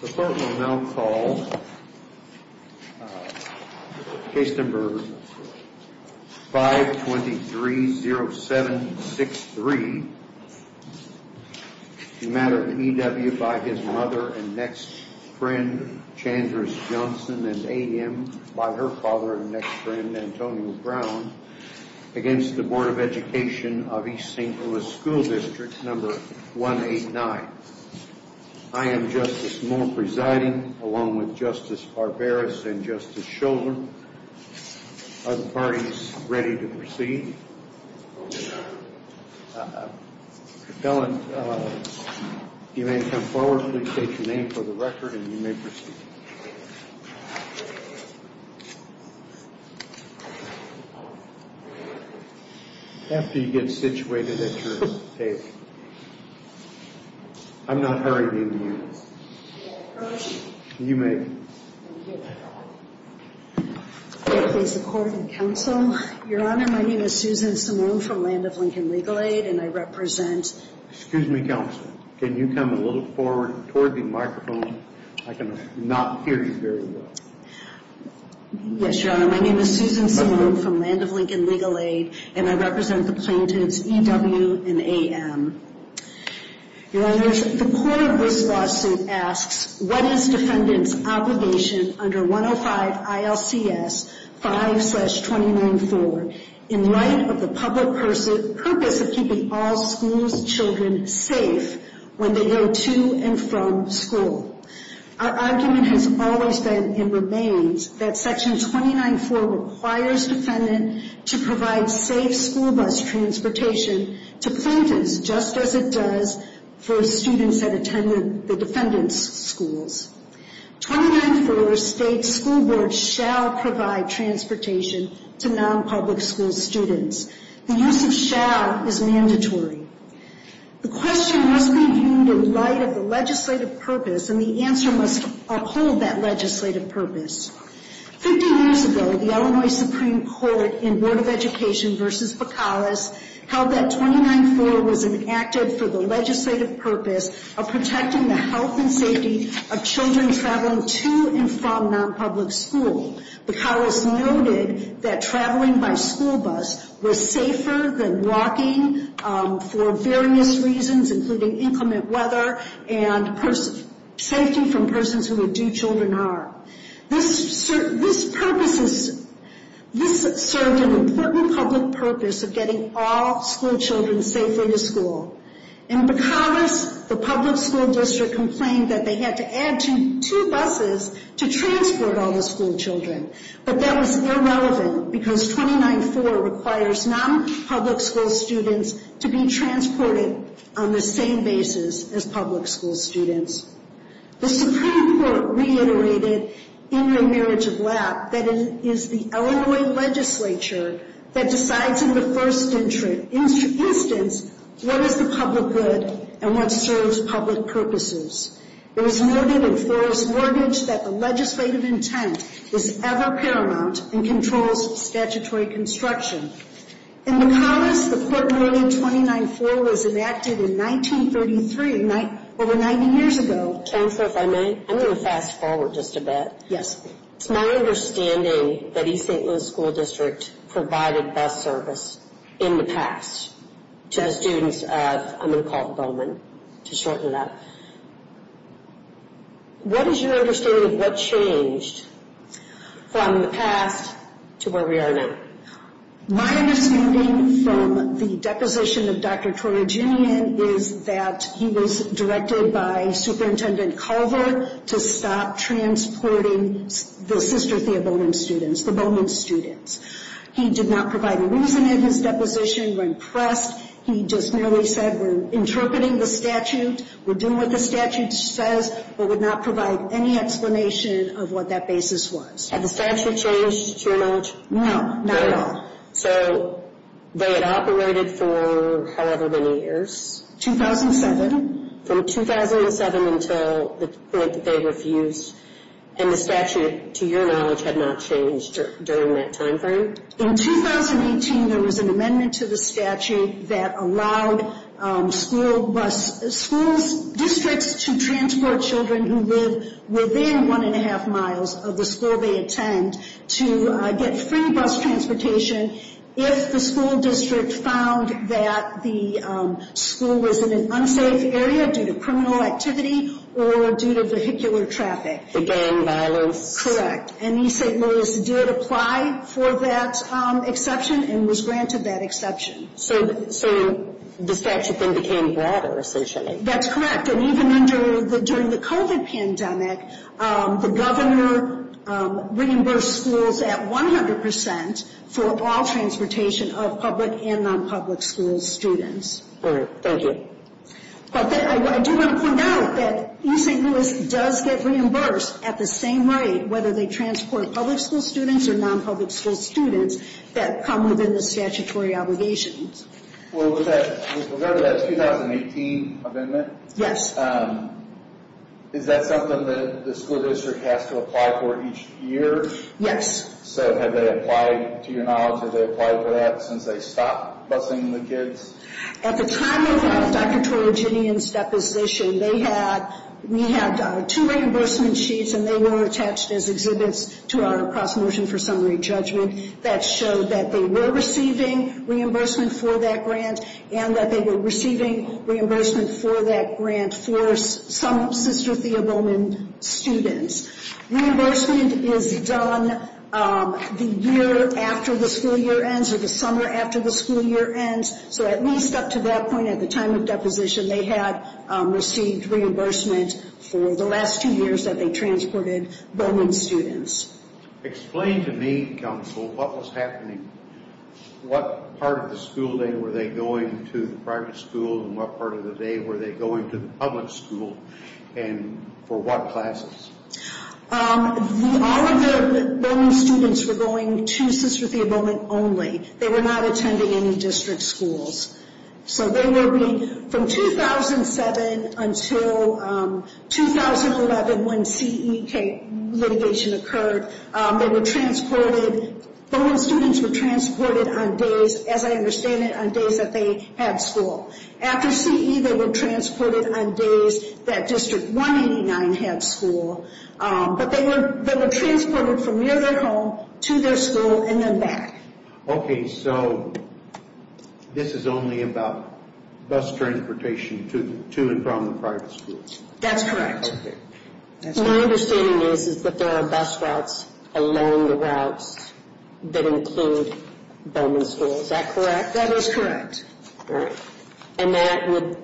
The Court will now call Case No. 523-0763, the matter of E.W. v. his mother and next friend, Chandra Johnson, and A.M. v. her father and next friend, Antonio Brown, against the Board of Education of East St. Louis School District No. 189. I am Justice Moore presiding, along with Justice Barberos and Justice Shoulder. Are the parties ready to proceed? You may come forward. Please state your name for the record and you may proceed. After you get situated at your table. I'm not hurrying into you. You may. I please the court and counsel. Your Honor, my name is Susan Simone from Land of Lincoln Legal Aid and I represent. Excuse me, counsel. Can you come a little forward toward the microphone? I cannot hear you very well. Yes, Your Honor, my name is Susan Simone from Land of Lincoln Legal Aid and I represent the plaintiffs E.W. and A.M. Your Honor, the core of this lawsuit asks, what is defendant's obligation under 105 ILCS 5-29-4 in light of the public purpose of keeping all school's children safe when they go to and from school? Our argument has always been and remains that section 29-4 requires defendant to provide safe school bus transportation to plaintiffs just as it does for students that attend the defendant's schools. 29-4 states school boards shall provide transportation to non-public school students. The use of shall is mandatory. The question must be viewed in light of the legislative purpose and the answer must uphold that legislative purpose. 50 years ago, the Illinois Supreme Court in Board of Education versus Bacalus held that 29-4 was enacted for the legislative purpose of protecting the health and safety of children traveling to and from non-public school. Bacalus noted that traveling by school bus was safer than walking for various reasons including inclement weather and safety from persons who would do children harm. This purpose is, this served an important public purpose of getting all school children safer to school. In Bacalus, the public school district complained that they had to add two buses to transport all the school children, but that was irrelevant because 29-4 requires non-public school students to be transported on the same basis as public school students. The Supreme Court reiterated in their marriage of lap that it is the Illinois legislature that decides in the first instance what is the public good and what serves public purposes. It was noted in Forrest Mortgage that the legislative intent is ever paramount and statutory construction. In Bacalus, the court ruling 29-4 was enacted in 1933, over 90 years ago. Chancellor, if I may, I'm going to fast forward just a bit. Yes. It's my understanding that East St. Louis School District provided bus service in the past to students of, I'm going to call it Bowman, to shorten that. What is your understanding of what changed from the past to where we are now? My understanding from the deposition of Dr. Torriginian is that he was directed by Superintendent Culver to stop transporting the Sister Thea Bowman students, the Bowman students. He did not provide a reason in his deposition when pressed. He just merely said we're interpreting the statute, we're doing what the statute says, but would not provide any No, not at all. So they had operated for however many years? 2007. From 2007 until the point that they refused and the statute, to your knowledge, had not changed during that time frame? In 2018, there was an amendment to the statute that allowed school districts to transport children who live within one and a half miles of the school they attend to get free bus transportation if the school district found that the school was in an unsafe area due to criminal activity or due to vehicular traffic. Again, violence? Correct, and East St. Louis did apply for that exception and was granted that exception. So the statute then became broader, essentially? That's correct, and even during the COVID pandemic, the governor reimbursed schools at 100% for all transportation of public and non-public school students. Thank you. I do want to point out that East St. Louis does get reimbursed at the same rate whether they transport public school students or non-public school students that come within the statutory obligations. Well, with regard to that 2018 amendment, is that something that the school district has to apply for each year? Yes. So have they applied, to your knowledge, have they applied for that since they stopped busing the kids? At the time of Dr. Torriginian's deposition, we had two reimbursement sheets and they were attached as exhibits to our cross-motion for summary judgment that showed that they were receiving reimbursement for that grant and that they were receiving reimbursement for that grant for some Sister Thea Bowman students. Reimbursement is done the year after the school year ends or the summer after the school year ends. So at least up to that point, at the time of deposition, they had received reimbursement for the last two years that they transported Bowman students. Explain to me, counsel, what was happening? What part of the school day were they going to the private school and what part of the day were they going to the public school and for what classes? All of the Bowman students were going to Sister Thea Bowman only. They were not attending any district schools. From 2007 until 2011 when CEK litigation occurred, Bowman students were transported on days, as I understand it, on days that they had school. After CE, they were transported on days that District 189 had school, but they were transported from near their home. So this is only about bus transportation to and from the private schools? That's correct. My understanding is that there are bus routes along the routes that include Bowman schools. Is that correct? That is correct. And that would,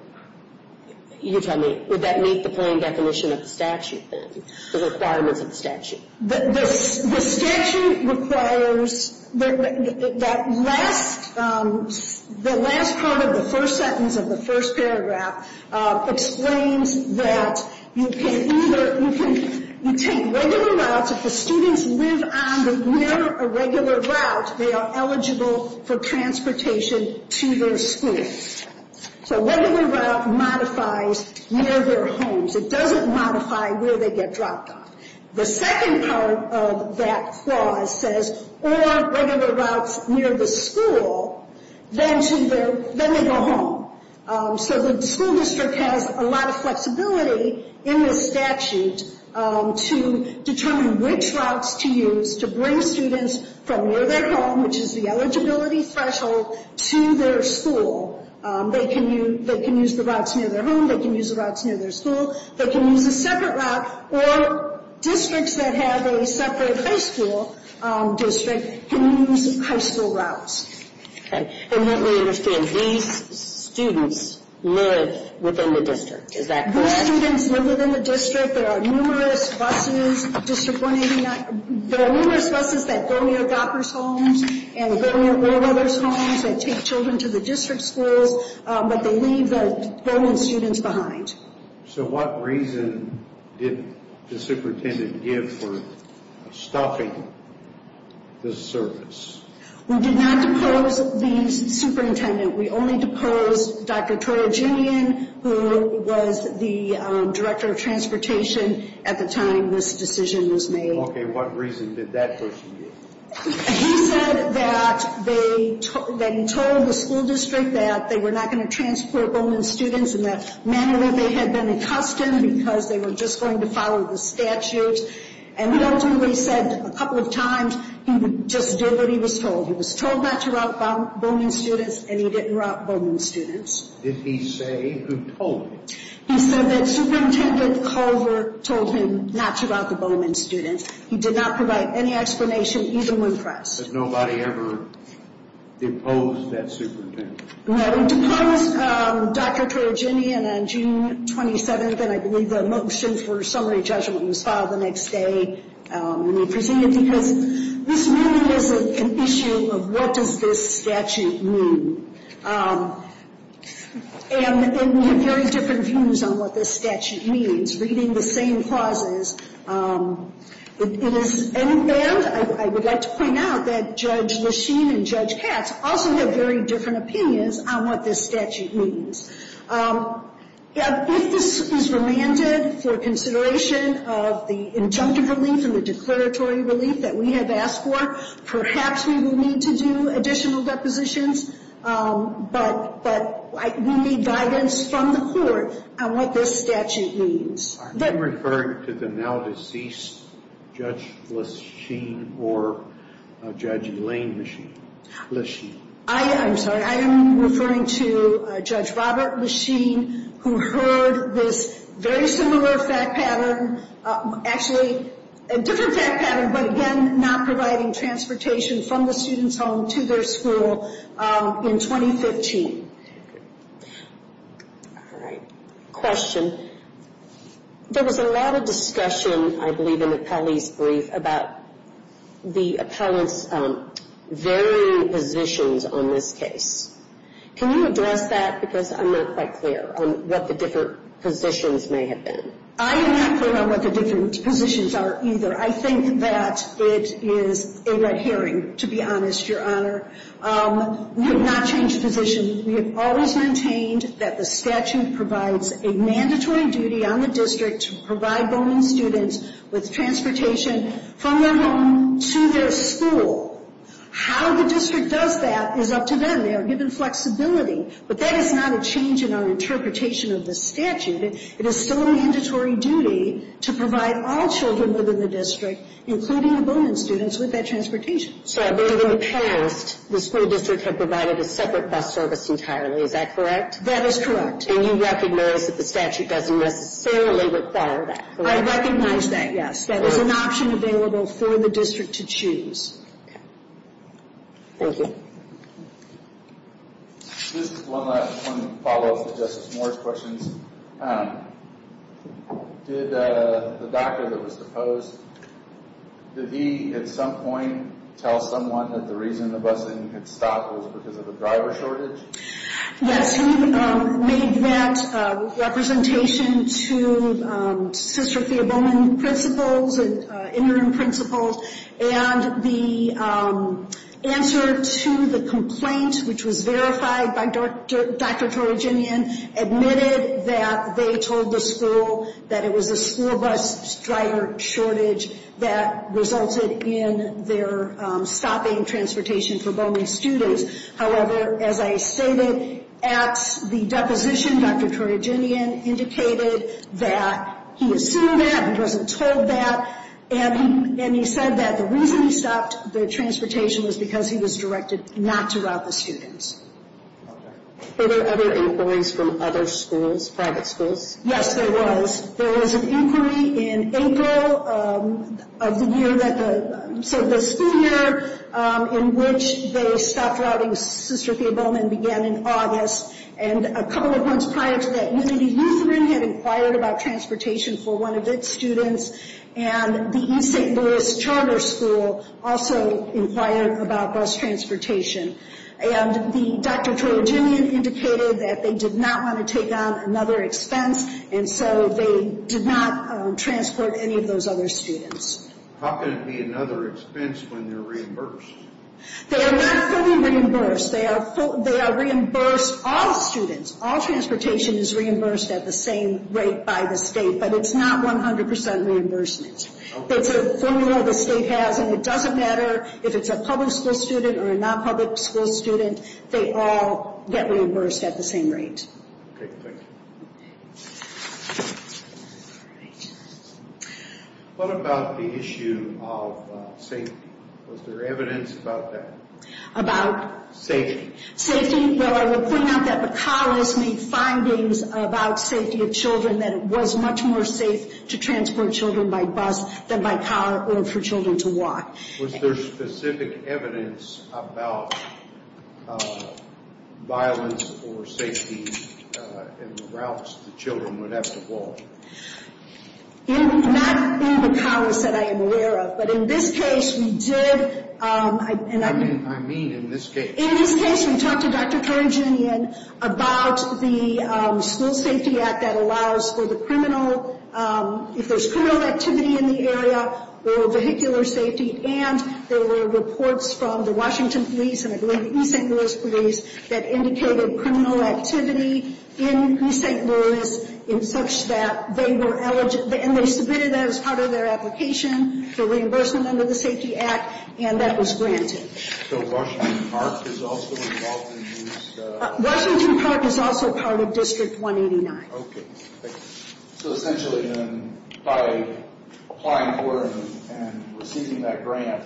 you tell me, would that meet the plain definition of the statute then, the requirements of the statute? The statute requires, that last, the last part of the first sentence of the first paragraph explains that you can either, you can, you take regular routes. If the students live on the, near a regular route, they are eligible for transportation to their school. So regular route modifies near their homes. It doesn't modify where they get dropped off. The second part of that clause says, or regular routes near the school, then to their, then they go home. So the school district has a lot of flexibility in the statute to determine which routes to use to bring students from near their home, which is the eligibility threshold, to their school. They can use, they can use the routes near their home, they can use the routes near their school, they can use a separate route, or districts that have a separate high school district can use high school routes. Okay. And what we understand, these students live within the district, is that correct? These students live within the district. There are numerous buses, District 189, there are numerous buses that go near Doppers homes and go near Warbrothers homes that take children to the district schools, but they leave the Bowman students behind. So what reason did the superintendent give for stopping the service? We did not depose the superintendent. We only deposed Dr. Troyer-Jimien, who was the director of transportation at the time this decision was made. Okay, what reason did that person give? He said that they told the school district that they were not going to transport Bowman students and that manually they had been accustomed because they were just going to follow the statute, and ultimately said a couple of times he just did what he was told. He was told not to route Bowman students and he didn't route Bowman students. Did he say who told him? He said that Superintendent Culver told him not to route the Bowman students. He did not provide any explanation even when pressed. Did nobody ever depose that superintendent? No, we deposed Dr. Troyer-Jimien on June 27th, and I believe the motions for summary judgment was filed the next day when we presented because this really is an issue of what does this statute mean? And we have very different views on what this statute means, reading the same clauses. It is, and I would like to point out that Judge Lachine and Judge Katz also have very different opinions on what this statute means. If this is remanded for consideration of the injunctive relief and the declaratory relief that we have asked for, perhaps we will need to do additional depositions, but we need guidance from the court on what this statute means. Are you referring to the now deceased Judge Lachine or Judge Elaine Lachine? I'm sorry, I am referring to Judge Robert Lachine who heard this very similar fact pattern, actually a different fact pattern, but again not providing transportation from the All right, question. There was a lot of discussion, I believe in the police brief, about the appellant's varying positions on this case. Can you address that because I'm not quite clear on what the different positions may have been? I am not clear on what the different positions are either. I think that it is a red herring, to be honest, Your Honor. We have not changed positions. We have maintained that the statute provides a mandatory duty on the district to provide Bowman students with transportation from their home to their school. How the district does that is up to them. They are given flexibility, but that is not a change in our interpretation of the statute. It is still a mandatory duty to provide all children within the district, including the Bowman students, with that transportation. So I believe in the past the school district had provided a bus service entirely, is that correct? That is correct. And you recognize that the statute doesn't necessarily require that, correct? I recognize that, yes. That is an option available for the district to choose. Thank you. This is one last follow-up to Justice Moore's questions. Did the doctor that was deposed, did he at some point tell someone that the reason the school bus driver shortage? Yes, he made that representation to Sister Thea Bowman principals and interim principals. And the answer to the complaint, which was verified by Dr. Toraginian, admitted that they told the school that it was a school bus driver shortage that resulted in their stopping transportation for Bowman students. However, as I stated at the deposition, Dr. Toraginian indicated that he assumed that, he wasn't told that, and he said that the reason he stopped the transportation was because he was directed not to route the students. Were there other inquiries from other schools, private schools? Yes, there was. There was an inquiry in April of the year that, so the school year in which they stopped routing Sister Thea Bowman began in August, and a couple of months prior to that, Unity Lutheran had inquired about transportation for one of its students, and the East St. Louis Charter School also inquired about bus transportation. And the Dr. Toraginian indicated that they did not want to take on another expense, and so they did not transport any of those other students. How can it be another expense when they're reimbursed? They are not fully reimbursed. They are reimbursed, all students, all transportation is reimbursed at the same rate by the state, but it's not 100% reimbursement. It's a formula the state has, and it doesn't matter if it's a public school student or a non-public school student, they all get reimbursed. What about the issue of safety? Was there evidence about that? About? Safety. Safety? Well, I would point out that the college made findings about safety of children that it was much more safe to transport children by bus than by car or for children to walk. Was there specific evidence about violence or safety in the routes the children would have to walk? Not in the college that I am aware of, but in this case we did, and I mean in this case, in this case we talked to Dr. Toraginian about the School Safety Act that allows for the criminal, if there's criminal activity in the area, or vehicular safety, and there were reports from the Washington Police and I believe the East St. Louis Police that indicated criminal activity in East St. Louis in such that they were eligible, and they submitted that as part of their application for reimbursement under the Safety Act, and that was granted. So Washington Park is also involved in this? Washington Park is also part of District 189. Okay, so essentially then by applying for and receiving that grant,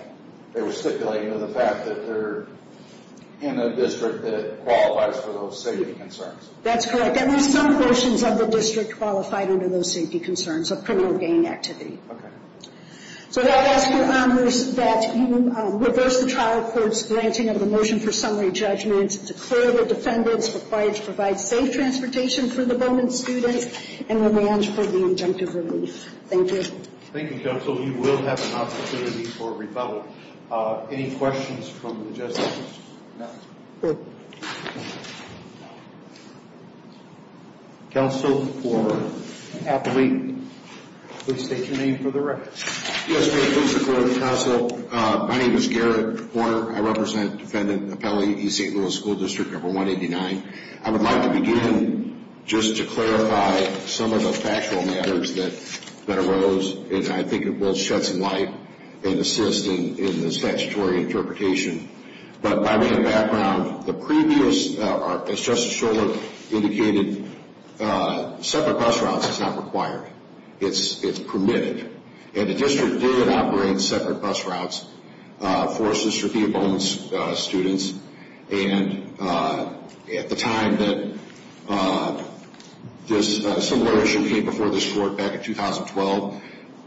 they were stipulating the fact that they're in a district that qualifies for those safety concerns. That's correct, and there's some portions of the district qualified under those safety concerns of criminal gang activity. Okay. So I ask your honors that you reverse the trial court's granting of the motion for summary judgments, declare the defendants required to provide safe transportation for the Bowman students, and remand for the injunctive relief. Thank you. Thank you, counsel. You will have an opportunity for rebuttal. Any questions from the justices? Counsel for Appellee, please state your name for the record. Yes, ma'am. Please declare the counsel. My name is Garrett Horner. I represent Defendant Appellee East St. Louis School District Number 189. I would like to begin just to clarify some of the factual matters that arose, and I think it will shed some light and assist in the statutory interpretation. But by way of background, the previous, as Justice Schorler indicated, separate bus routes is not required. It's permitted, and the district did operate separate bus routes for Sister Thea Bowman's students. And at the time that this similar issue came before this court back in 2012,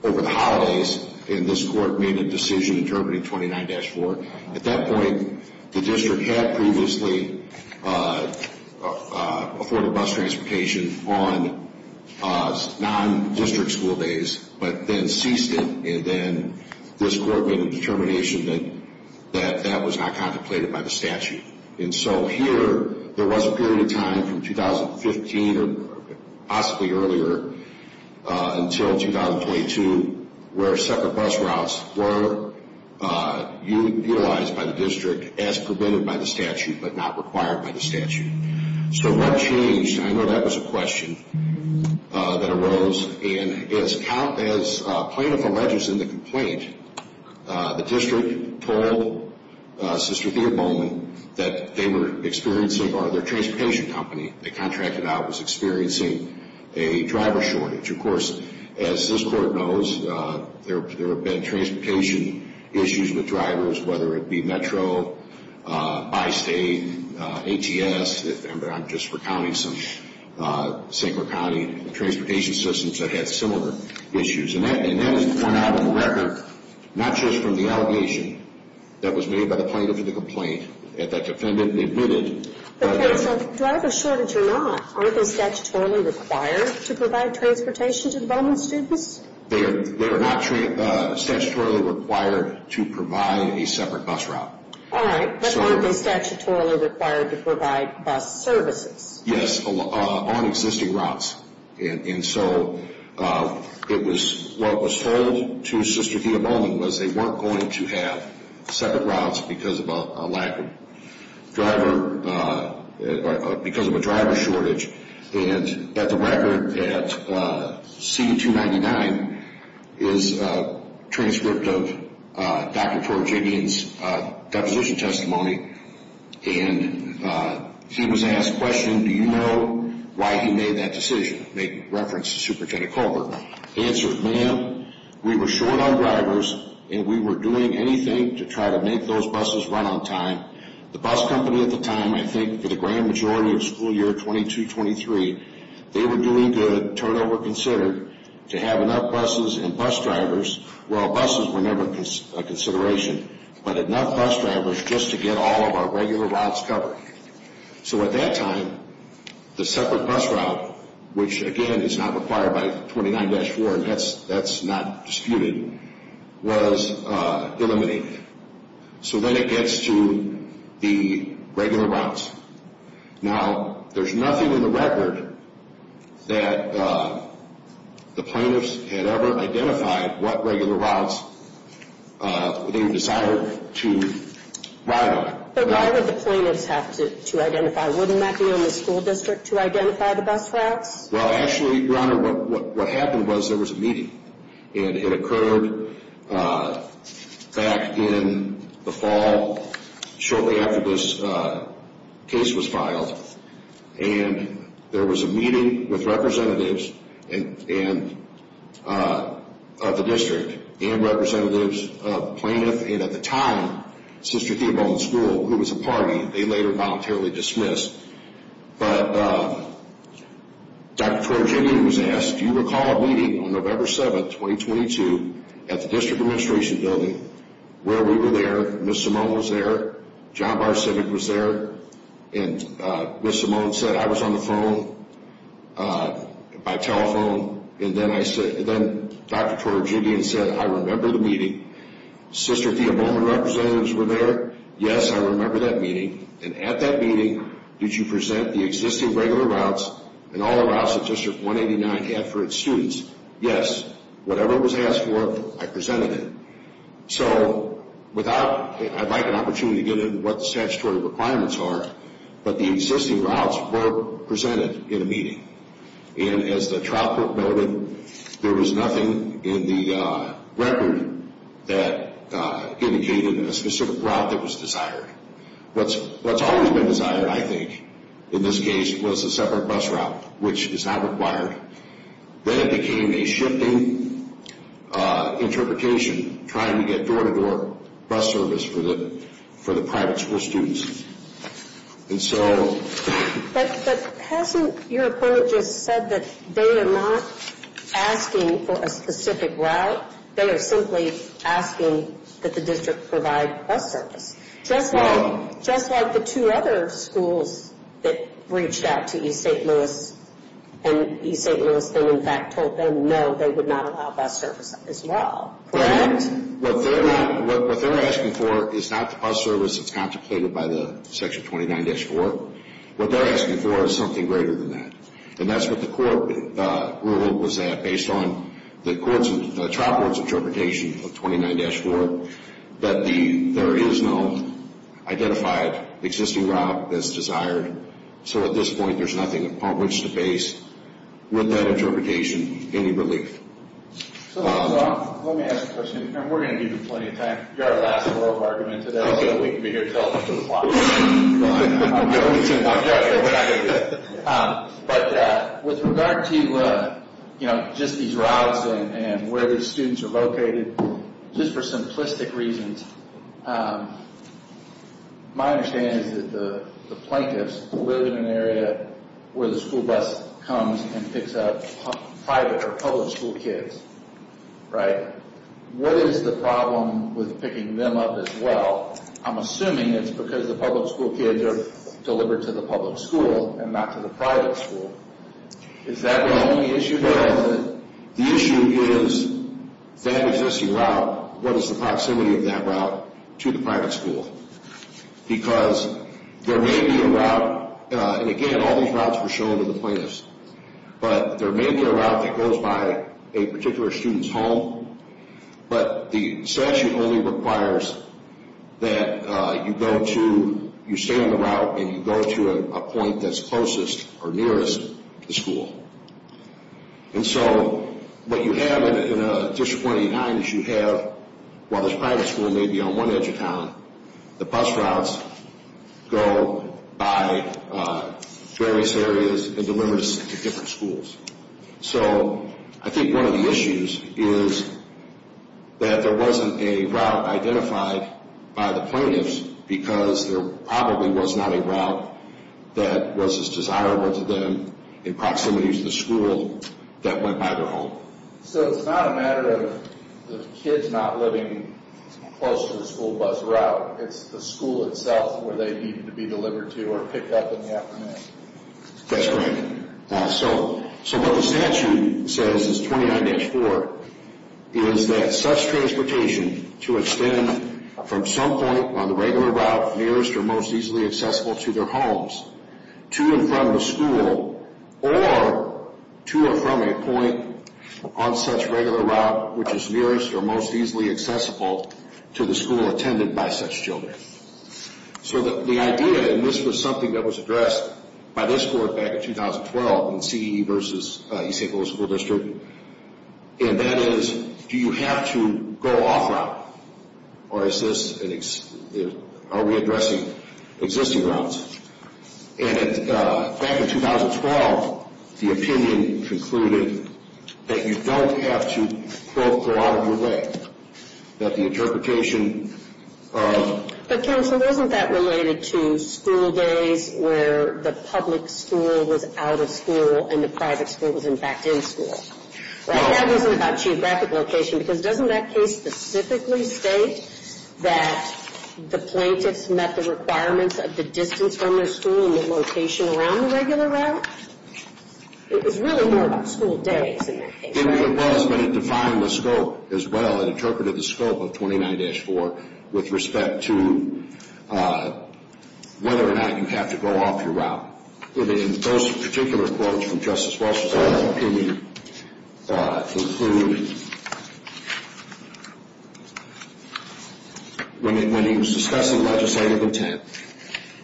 over the holidays, and this court made a decision interpreting 29-4. At that point, the district had previously afforded bus transportation on non-district school days, but then ceased it. And then this court made a determination that that was not contemplated by the statute. And so here, there was a period of time from 2015 or possibly earlier until 2022 where separate bus routes were utilized by the district as permitted by the statute, but not required by the statute. So what changed? I know that was a question that arose, and as plaintiff alleges in the complaint, the district told Sister Thea Bowman that they were experiencing, or their transportation company they contracted out, was experiencing a driver shortage. Of course, as this court knows, there have been transportation issues with drivers, whether it be Metro, Bi-State, ATS, and I'm just recounting some Sacred County transportation systems that had similar issues. And that is pointed out on the record, not just from the allegation that was made by the plaintiff in the complaint, that that defendant admitted. But do I have a shortage or not? Are they statutorily required to provide transportation to the Bowman students? They are not statutorily required to provide a separate bus route. All right, but aren't they statutorily required to provide bus services? Yes, on existing routes. And so it was, what was told to Sister Thea Bowman was they weren't going to have separate routes because of a lack of driver, or because of a driver shortage. And at the record, at CD-299 is a transcript of Dr. Torajibian's deposition testimony, and he was asked the question, do you know why he made that decision? Make reference to Superintendent Colbert. Answered, ma'am, we were short on drivers and we were doing anything to try to make those buses run on time. The bus company at the time, I think for the grand majority of school year 22-23, they were doing good, turnover considered, to have enough buses and bus drivers, well buses were never a consideration, but enough bus drivers just to get all of our regular routes covered. So at that time, the separate bus route, which again is not required by 29-4, and that's not disputed, was eliminated. So then it gets to the regular routes. Now, there's nothing in the record that the plaintiffs had ever identified what regular routes they decided to ride on. But why would the plaintiffs have to identify, wouldn't that be in the school district to identify the bus routes? Well, actually, Your Honor, what happened was there was a meeting, and it occurred back in the fall, shortly after this case was filed, and there was a meeting with representatives of the district and representatives of plaintiffs, and at the time, Sister Theobald's School, who was a party, they later voluntarily dismissed. But Dr. Kortergien was asked, do you recall a meeting on November 7, 2022, at the district administration building, where we were there, Ms. Simone was there, John Barr-Civic was there, and Ms. Simone said, I was on the phone, by telephone, and then Dr. Kortergien said, I remember the meeting. Sister Theobald and representatives were there, yes, I remember that meeting, and at that meeting, did you present the existing regular routes and all the routes that District 189 had for its students? Yes, whatever was asked for, I presented it. So, without, I'd like an opportunity to get into what the statutory requirements are, but the existing routes were presented in a meeting, and as the trial court noted, there was nothing in the record that indicated a specific route that was desired. What's always been desired, I think, in this case, was a separate bus route, which is not required. Then it became a shifting interpretation, trying to get door-to-door bus service for the private school students. And so... But hasn't your opponent just said that they are not asking for a specific route, they are simply asking that the district provide bus service, just like the two other schools that reached out to East St. Louis, and East St. Louis in fact told them, no, they would not allow bus service as well, correct? What they're asking for is not the bus service that's contemplated by the Section 29-4, what they're asking for is something greater than that. And that's what the court ruled, was that based on the trial court's interpretation of 29-4, that there is no identified existing route that's desired. So at this point, there's nothing to publish, to base with that interpretation any relief. So let me ask a question, and we're going to give you plenty of time. You're our last floor of argument today. We can be here until after the clock. I'm going to, I'm going to. But with regard to, you know, just these routes and where these students are located, just for simplistic reasons, my understanding is that the plaintiffs live in an area where the school bus comes and picks up private or public school kids, right? What is the problem with picking them up as well? I'm assuming it's because the public school kids are delivered to the public school and not to the private school. Is that really the issue here? No, the issue is that existing route, what is the proximity of that route to the private school? Because there may be a route, and again, all these routes were shown to the plaintiffs. But there may be a route that goes by a particular student's home, but the statute only requires that you go to, you stay on the route and you go to a point that's closest or nearest the school. And so what you have in a District 29 is you have, while there's private school maybe on one edge of town, the bus routes go by various areas and deliver us to different schools. So I think one of the issues is that there wasn't a route identified by the plaintiffs because there probably was not a route that was as desirable to them in proximity to the school that went by their home. So it's not a matter of the kids not living close to the school bus route, it's the school itself where they need to be delivered to or picked up in the afternoon. That's correct. So what the statute says, it's 29-4, is that such transportation to extend from some point on the regular route nearest or most easily accessible to their homes, to and from the school, or to or from a point on such regular route which is nearest or most easily accessible to the school attended by such children. So the idea, and this was something that was addressed by this court back in 2012 in CE versus East St. Louis School District, and that is do you have to go off route or are we addressing existing routes? And back in 2012, the opinion concluded that you don't have to, quote, go out of your way. That the interpretation of... But counsel, isn't that related to school days where the public school was out of school and the private school was, in fact, in school? Right? That wasn't about geographic location because doesn't that case specifically state that the plaintiffs met the requirements of the distance from their school and the location around the regular route? It was really more about school days in that case, right? It really was, but it defined the scope as well. It interpreted the scope of 29-4 with respect to whether or not you have to go off your route. And those particular quotes from Justice Walsh's opinion conclude when he was discussing legislative intent,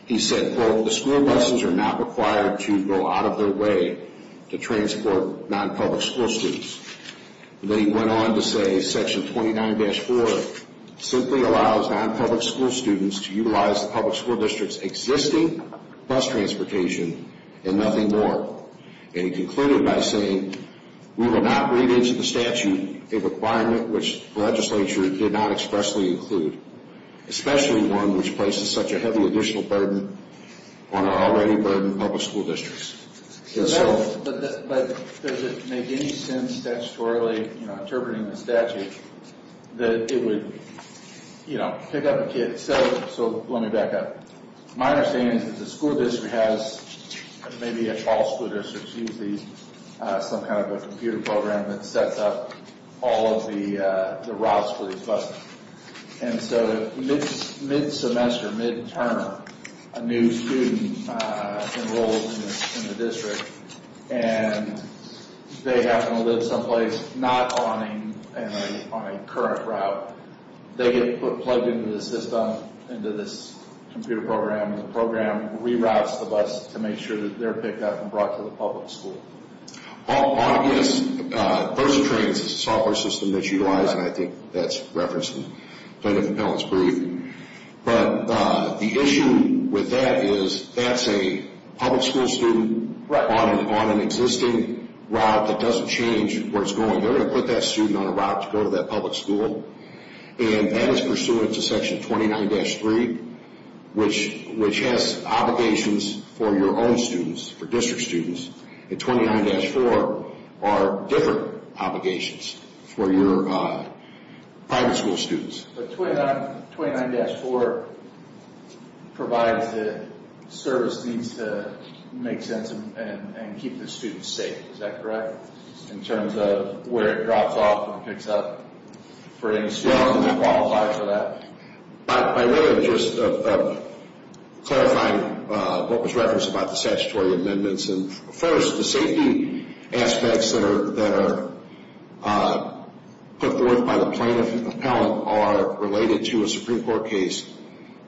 he said, quote, the school buses are not required to go out of their way to transport non-public school students. Then he went on to say section 29-4 simply allows non-public school students to utilize the public school district's existing bus transportation and nothing more. And he concluded by saying, we will not read into the statute a requirement which the legislature did not expressly include, especially one which places such a heavy additional burden on our already burdened public school districts. But does it make any sense statutorily, you know, interpreting the statute, that it would, you know, pick up a kid? So let me back up. My understanding is that the school district has, maybe all school districts use these, some kind of a computer program that sets up all of the routes for these buses. And so mid-semester, mid-term, a new student enrolls in the district, and they happen to live someplace not on a current route. They get plugged into the system, into this computer program. And the program reroutes the bus to make sure that they're picked up and brought to the public school. Yes, VersaTrain is a software system that's utilized, and I think that's referenced in the plaintiff's appellate's brief. But the issue with that is that's a public school student on an existing route that doesn't change where it's going. They're going to put that student on a route to go to that public school. And that is pursuant to section 29-3, which has obligations for your own students, for district students. And 29-4 are different obligations for your private school students. But 29-4 provides the service needs to make sense and keep the students safe, is that correct? In terms of where it drops off and picks up for any student that qualifies for that? By way of just clarifying what was referenced about the statutory amendments. First, the safety aspects that are put forth by the plaintiff appellate are related to a Supreme Court case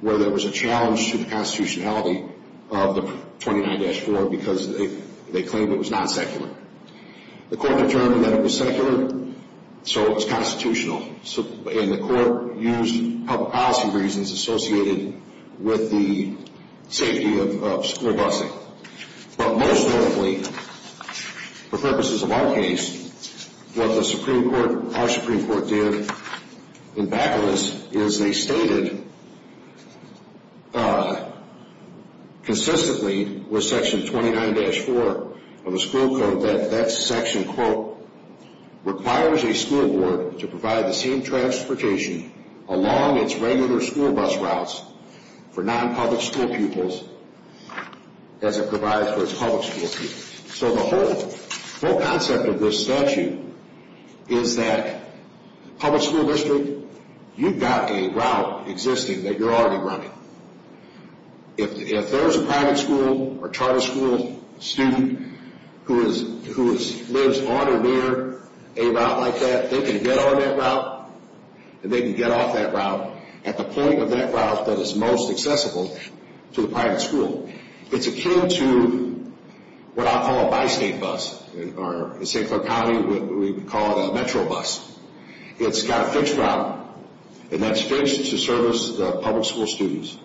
where there was a challenge to the constitutionality of the 29-4 because they claimed it was non-secular. The court determined that it was secular, so it's constitutional. And the court used public policy reasons associated with the safety of school busing. But most notably, for purposes of our case, what our Supreme Court did in back of this is they stated consistently with section 29-4 of the school code that that section, quote, requires a school board to provide the same transportation along its regular school bus routes for non-public school pupils as it provides for its public school pupils. So the whole concept of this statute is that public school district, you've got a route existing that you're already running. If there's a private school or charter school student who lives on or near a route like that, they can get on that route and they can get off that route at the point of that route that is most accessible to the private school. It's akin to what I'll call a bi-state bus. In St. Clair County, we call it a metro bus. It's got a fixed route, and that's fixed to service the public school students.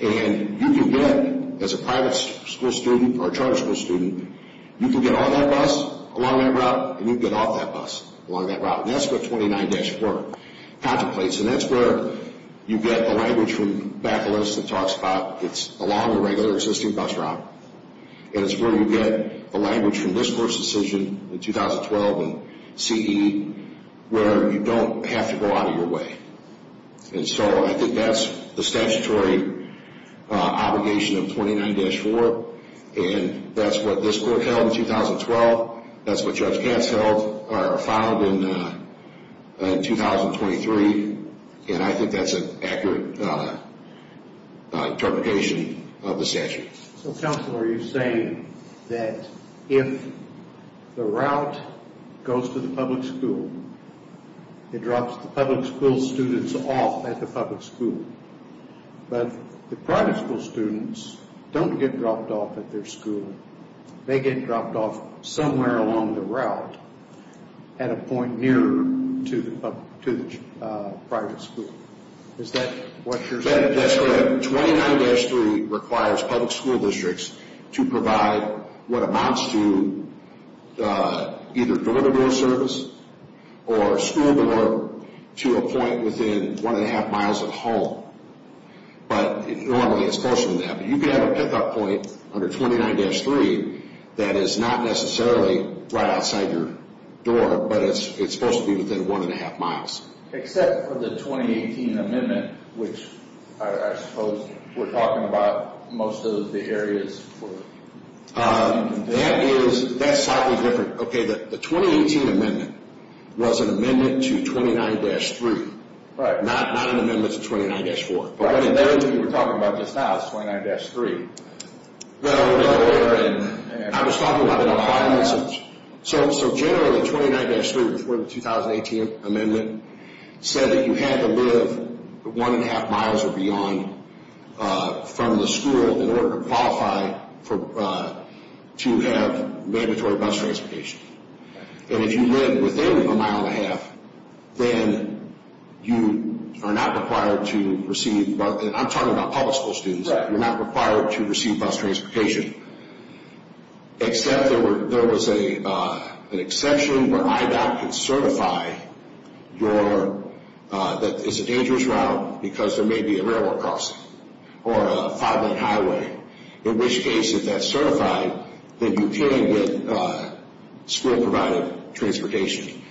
And you can get, as a private school student or charter school student, you can get on that bus along that route and you can get off that bus along that route, and that's what 29-4 contemplates. And that's where you get a language from back of the list that talks about it's along a regular existing bus route, and it's where you get a language from this Court's decision in 2012 and CE where you don't have to go out of your way. And so I think that's the statutory obligation of 29-4, and that's what this Court held in 2012. That's what Judge Katz held or filed in 2023, and I think that's an accurate interpretation of the statute. So, Counselor, you're saying that if the route goes to the public school, it drops the public school students off at the public school, but the private school students don't get dropped off at their school. They get dropped off somewhere along the route at a point nearer to the private school. Is that what you're saying? That's correct. 29-3 requires public school districts to provide what amounts to either door-to-door service or school door to a point within one-and-a-half miles of the home, but normally it's closer than that. But you can have a pickup point under 29-3 that is not necessarily right outside your door, but it's supposed to be within one-and-a-half miles. Except for the 2018 amendment, which I suppose we're talking about most of the areas. That's slightly different. Okay, the 2018 amendment was an amendment to 29-3, not an amendment to 29-4. But what you were talking about just now is 29-3. I was talking about the requirements. So generally, 29-3 before the 2018 amendment said that you had to live one-and-a-half miles or beyond from the school in order to qualify to have mandatory bus transportation. And if you live within a mile and a half, then you are not required to receive, and I'm talking about public school students, you're not required to receive bus transportation. Except there was an exception where IDOT could certify that it's a dangerous route because there may be a railroad crossing or a five-lane highway. In which case, if that's certified, then you came with school-provided transportation.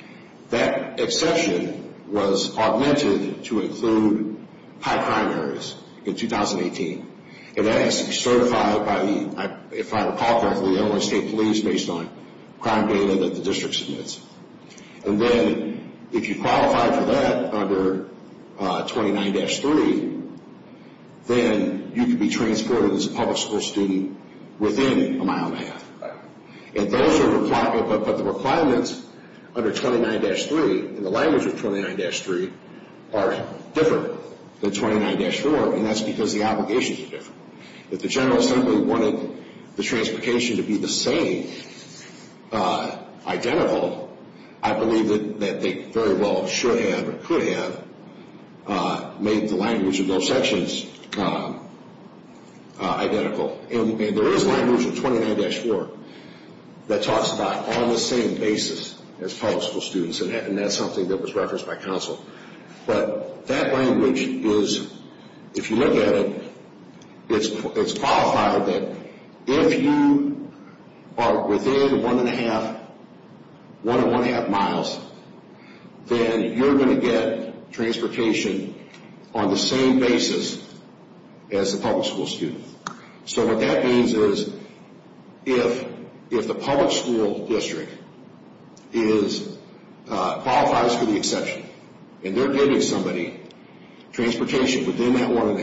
That exception was augmented to include high crime areas in 2018. And that has to be certified by the, if I recall correctly, Illinois State Police based on crime data that the district submits. And then if you qualify for that under 29-3, then you can be transported as a public school student within a mile and a half. But the requirements under 29-3, in the language of 29-3, are different than 29-4. And that's because the obligations are different. If the General Assembly wanted the transportation to be the same, identical, I believe that they very well should have or could have made the language of those sections identical. And there is language in 29-4 that talks about on the same basis as public school students. And that's something that was referenced by counsel. But that language is, if you look at it, it's qualified that if you are within one and a half miles, then you're going to get transportation on the same basis as a public school student. So what that means is, if the public school district qualifies for the exception, and they're giving somebody transportation within that one and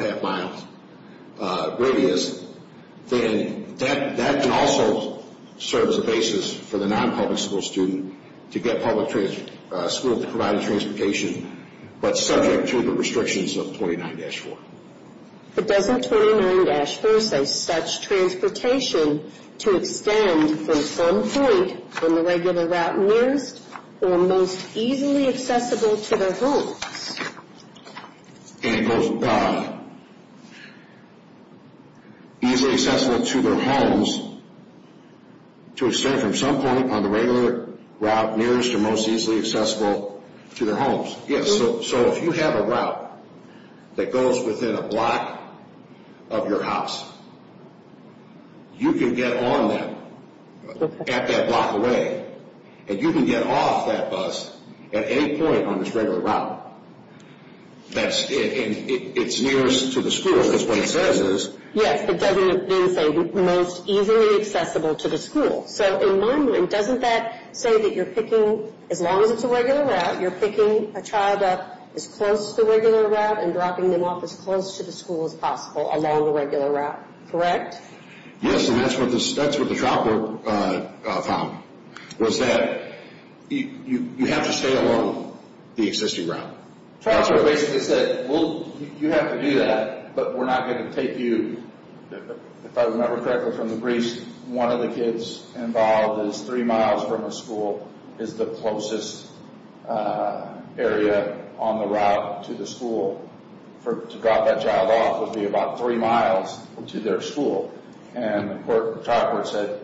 a half miles radius, then that can also serve as a basis for the non-public school student to get public school to provide transportation, but subject to the restrictions of 29-4. But doesn't 29-4 say such transportation to extend from some point on the regular route nearest, or most easily accessible to their homes? And it goes easily accessible to their homes to extend from some point on the regular route nearest, or most easily accessible to their homes. Yes, so if you have a route that goes within a block of your house, you can get on that at that block away. And you can get off that bus at any point on this regular route. And it's nearest to the school. That's what it says is. Yes, it does say most easily accessible to the school. So in my mind, doesn't that say that you're picking, as long as it's a regular route, you're picking a child up as close to the regular route and dropping them off as close to the school as possible along the regular route. Correct? Yes, and that's what the child court found, was that you have to stay along the existing route. Child court basically said, well, you have to do that, but we're not going to take you. If I remember correctly from the briefs, one of the kids involved is three miles from the school, is the closest area on the route to the school. To drop that child off would be about three miles to their school. And the child court said,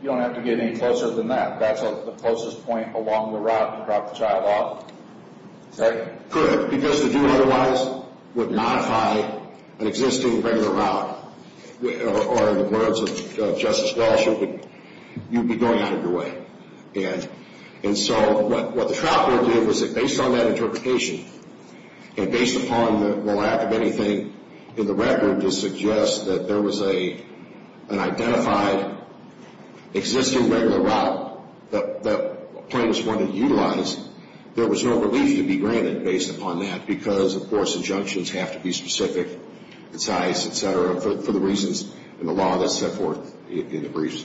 you don't have to get any closer than that. That's the closest point along the route to drop the child off. Correct? Correct, because to do it otherwise would modify an existing regular route. Or in the words of Justice Walsh, you'd be going out of your way. And so what the trial court did was that based on that interpretation, and based upon the lack of anything in the record to suggest that there was an identified existing regular route that plaintiffs wanted to utilize, there was no relief to be granted based upon that, because, of course, injunctions have to be specific in size, et cetera, for the reasons in the law that's set forth in the briefs.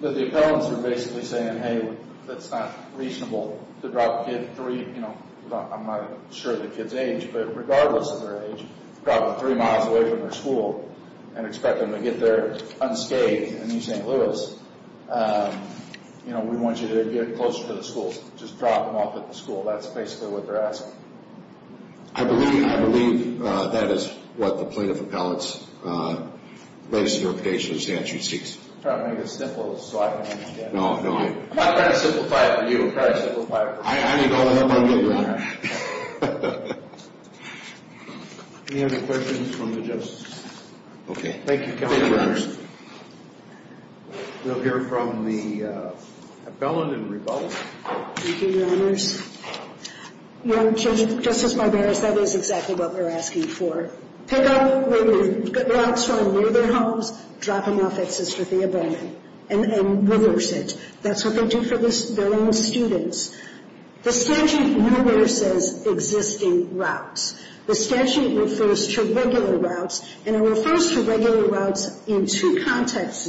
But the appellants are basically saying, hey, that's not reasonable to drop a kid three, I'm not sure the kid's age, but regardless of their age, drop them three miles away from their school and expect them to get there unscathed in New St. Louis. We want you to get closer to the school. Just drop them off at the school. That's basically what they're asking. I believe that is what the plaintiff appellant's latest interpretation of the statute seeks. I'm trying to make this simple so I can understand it. No, no. I'm trying to simplify it for you. I'm trying to simplify it for me. I need all the help I can get, Your Honor. Any other questions from the justices? Okay. Thank you, Counselor Anderson. Thank you, Your Honor. We'll hear from the appellant in rebuttal. Thank you, Your Honors. No, Justice Barberos, that was exactly what we were asking for. Pick up where you get routes from near their homes, drop them off at Sister Thea Bowman and reverse it. That's what they do for their own students. The statute never says existing routes. The statute refers to regular routes, and it refers to regular routes in two contexts,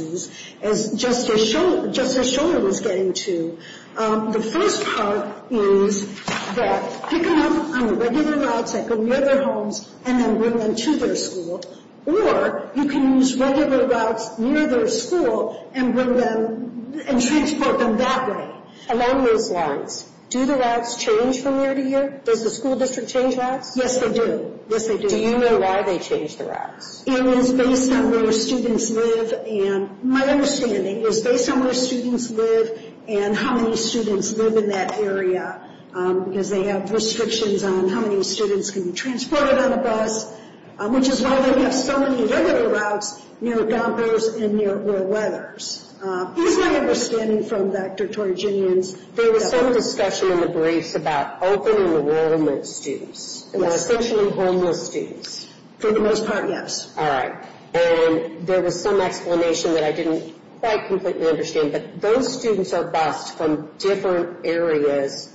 just as Shuler was getting to. The first part is that pick them up on regular routes that go near their homes and then bring them to their school, or you can use regular routes near their school and bring them and transport them that way along those lines. Do the routes change from year to year? Does the school district change routes? Yes, they do. Yes, they do. Do you know why they change the routes? It is based on where students live, and my understanding is based on where students live and how many students live in that area, because they have restrictions on how many students can be transported on a bus, which is why they have so many regular routes near dumpers and near oil weathers. Here's my understanding from Dr. Torriginian's. There was some discussion in the briefs about open and enrollment students, and they're essentially homeless students. For the most part, yes. All right, and there was some explanation that I didn't quite completely understand, but those students are bussed from different areas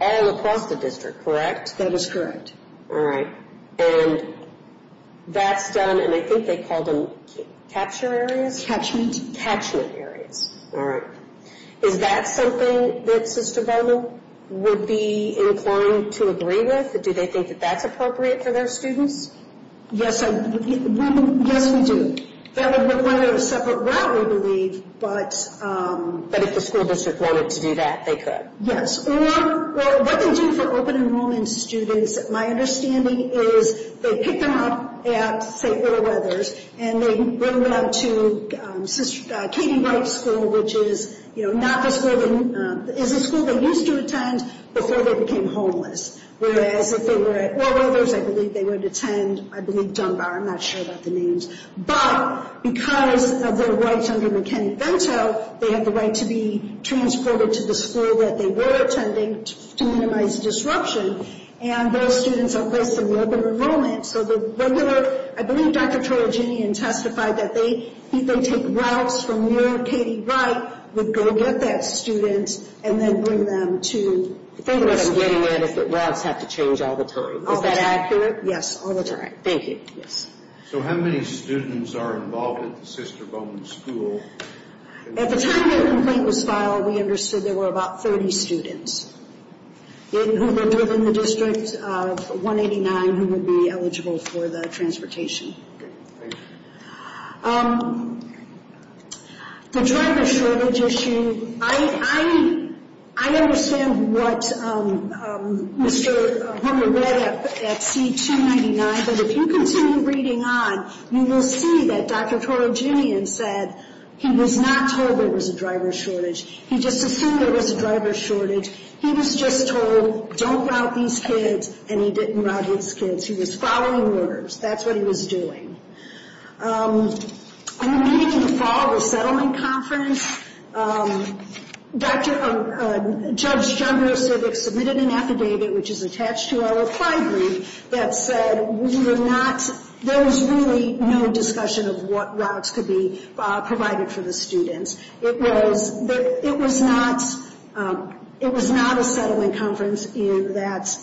all across the district, correct? That is correct. All right, and that's done, and I think they call them capture areas? Catchment. Catchment areas. All right. Is that something that Sister Vona would be inclined to agree with? Do they think that that's appropriate for their students? Yes, we do. That would require a separate route, we believe, but— But if the school district wanted to do that, they could. Yes, or what they do for open enrollment students, my understanding is they pick them up at, say, oil weathers, and they bring them to Katie White School, which is a school they used to attend before they became homeless. Whereas if they were at oil weathers, I believe they would attend, I believe, Dunbar. I'm not sure about the names. But because of their rights under McKinney-Vento, they have the right to be transported to the school that they were attending to minimize disruption, and those students are placed in the open enrollment. So the regular—I believe Dr. Torriginian testified that they take routes from near Katie White, would go with that student, and then bring them to— I think what I'm getting at is that routes have to change all the time. Is that accurate? Yes, all the time. Thank you. Yes. So how many students are involved at the Sister Vona School? At the time the complaint was filed, we understood there were about 30 students who lived within the District of 189 who would be eligible for the transportation. Good. Thank you. The driver shortage issue, I understand what Mr. Humber read up at C-299, but if you continue reading on, you will see that Dr. Torriginian said he was not told there was a driver shortage. He just assumed there was a driver shortage. He was just told, don't route these kids, and he didn't route these kids. He was following orders. That's what he was doing. In the meeting in the fall, the settlement conference, Judge John Grossivich submitted an affidavit, which is attached to our reply brief, that said we were not— there was really no discussion of what routes could be provided for the students. It was not a settling conference in that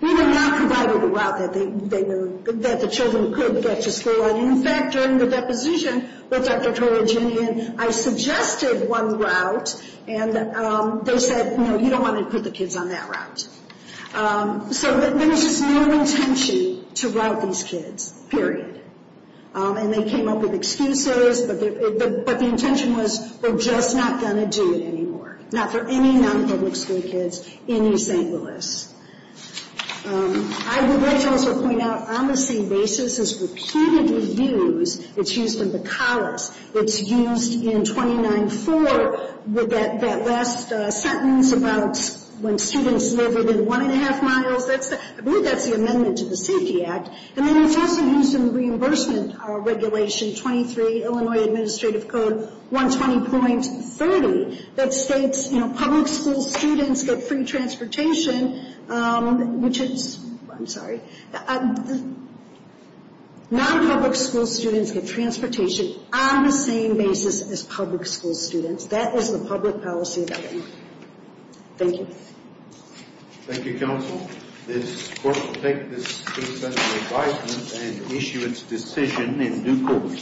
we were not provided a route that the children could get to school on. In fact, during the deposition with Dr. Torriginian, I suggested one route, and they said, no, you don't want to put the kids on that route. So there was just no intention to route these kids, period. And they came up with excuses, but the intention was, we're just not going to do it anymore. Not for any non-public school kids in East St. Louis. I would like to also point out, on the same basis as repeatedly used, it's used in Bacallus. It's used in 29-4 with that last sentence about when students live within one and a half miles. I believe that's the amendment to the Safety Act. And then it's also used in the Reimbursement Regulation 23, Illinois Administrative Code 120.30, that states, you know, public school students get free transportation, which is—I'm sorry. Non-public school students get transportation on the same basis as public school students. That is the public policy amendment. Thank you. Thank you, counsel. This court will take this case under advisement and issue its decision in due course.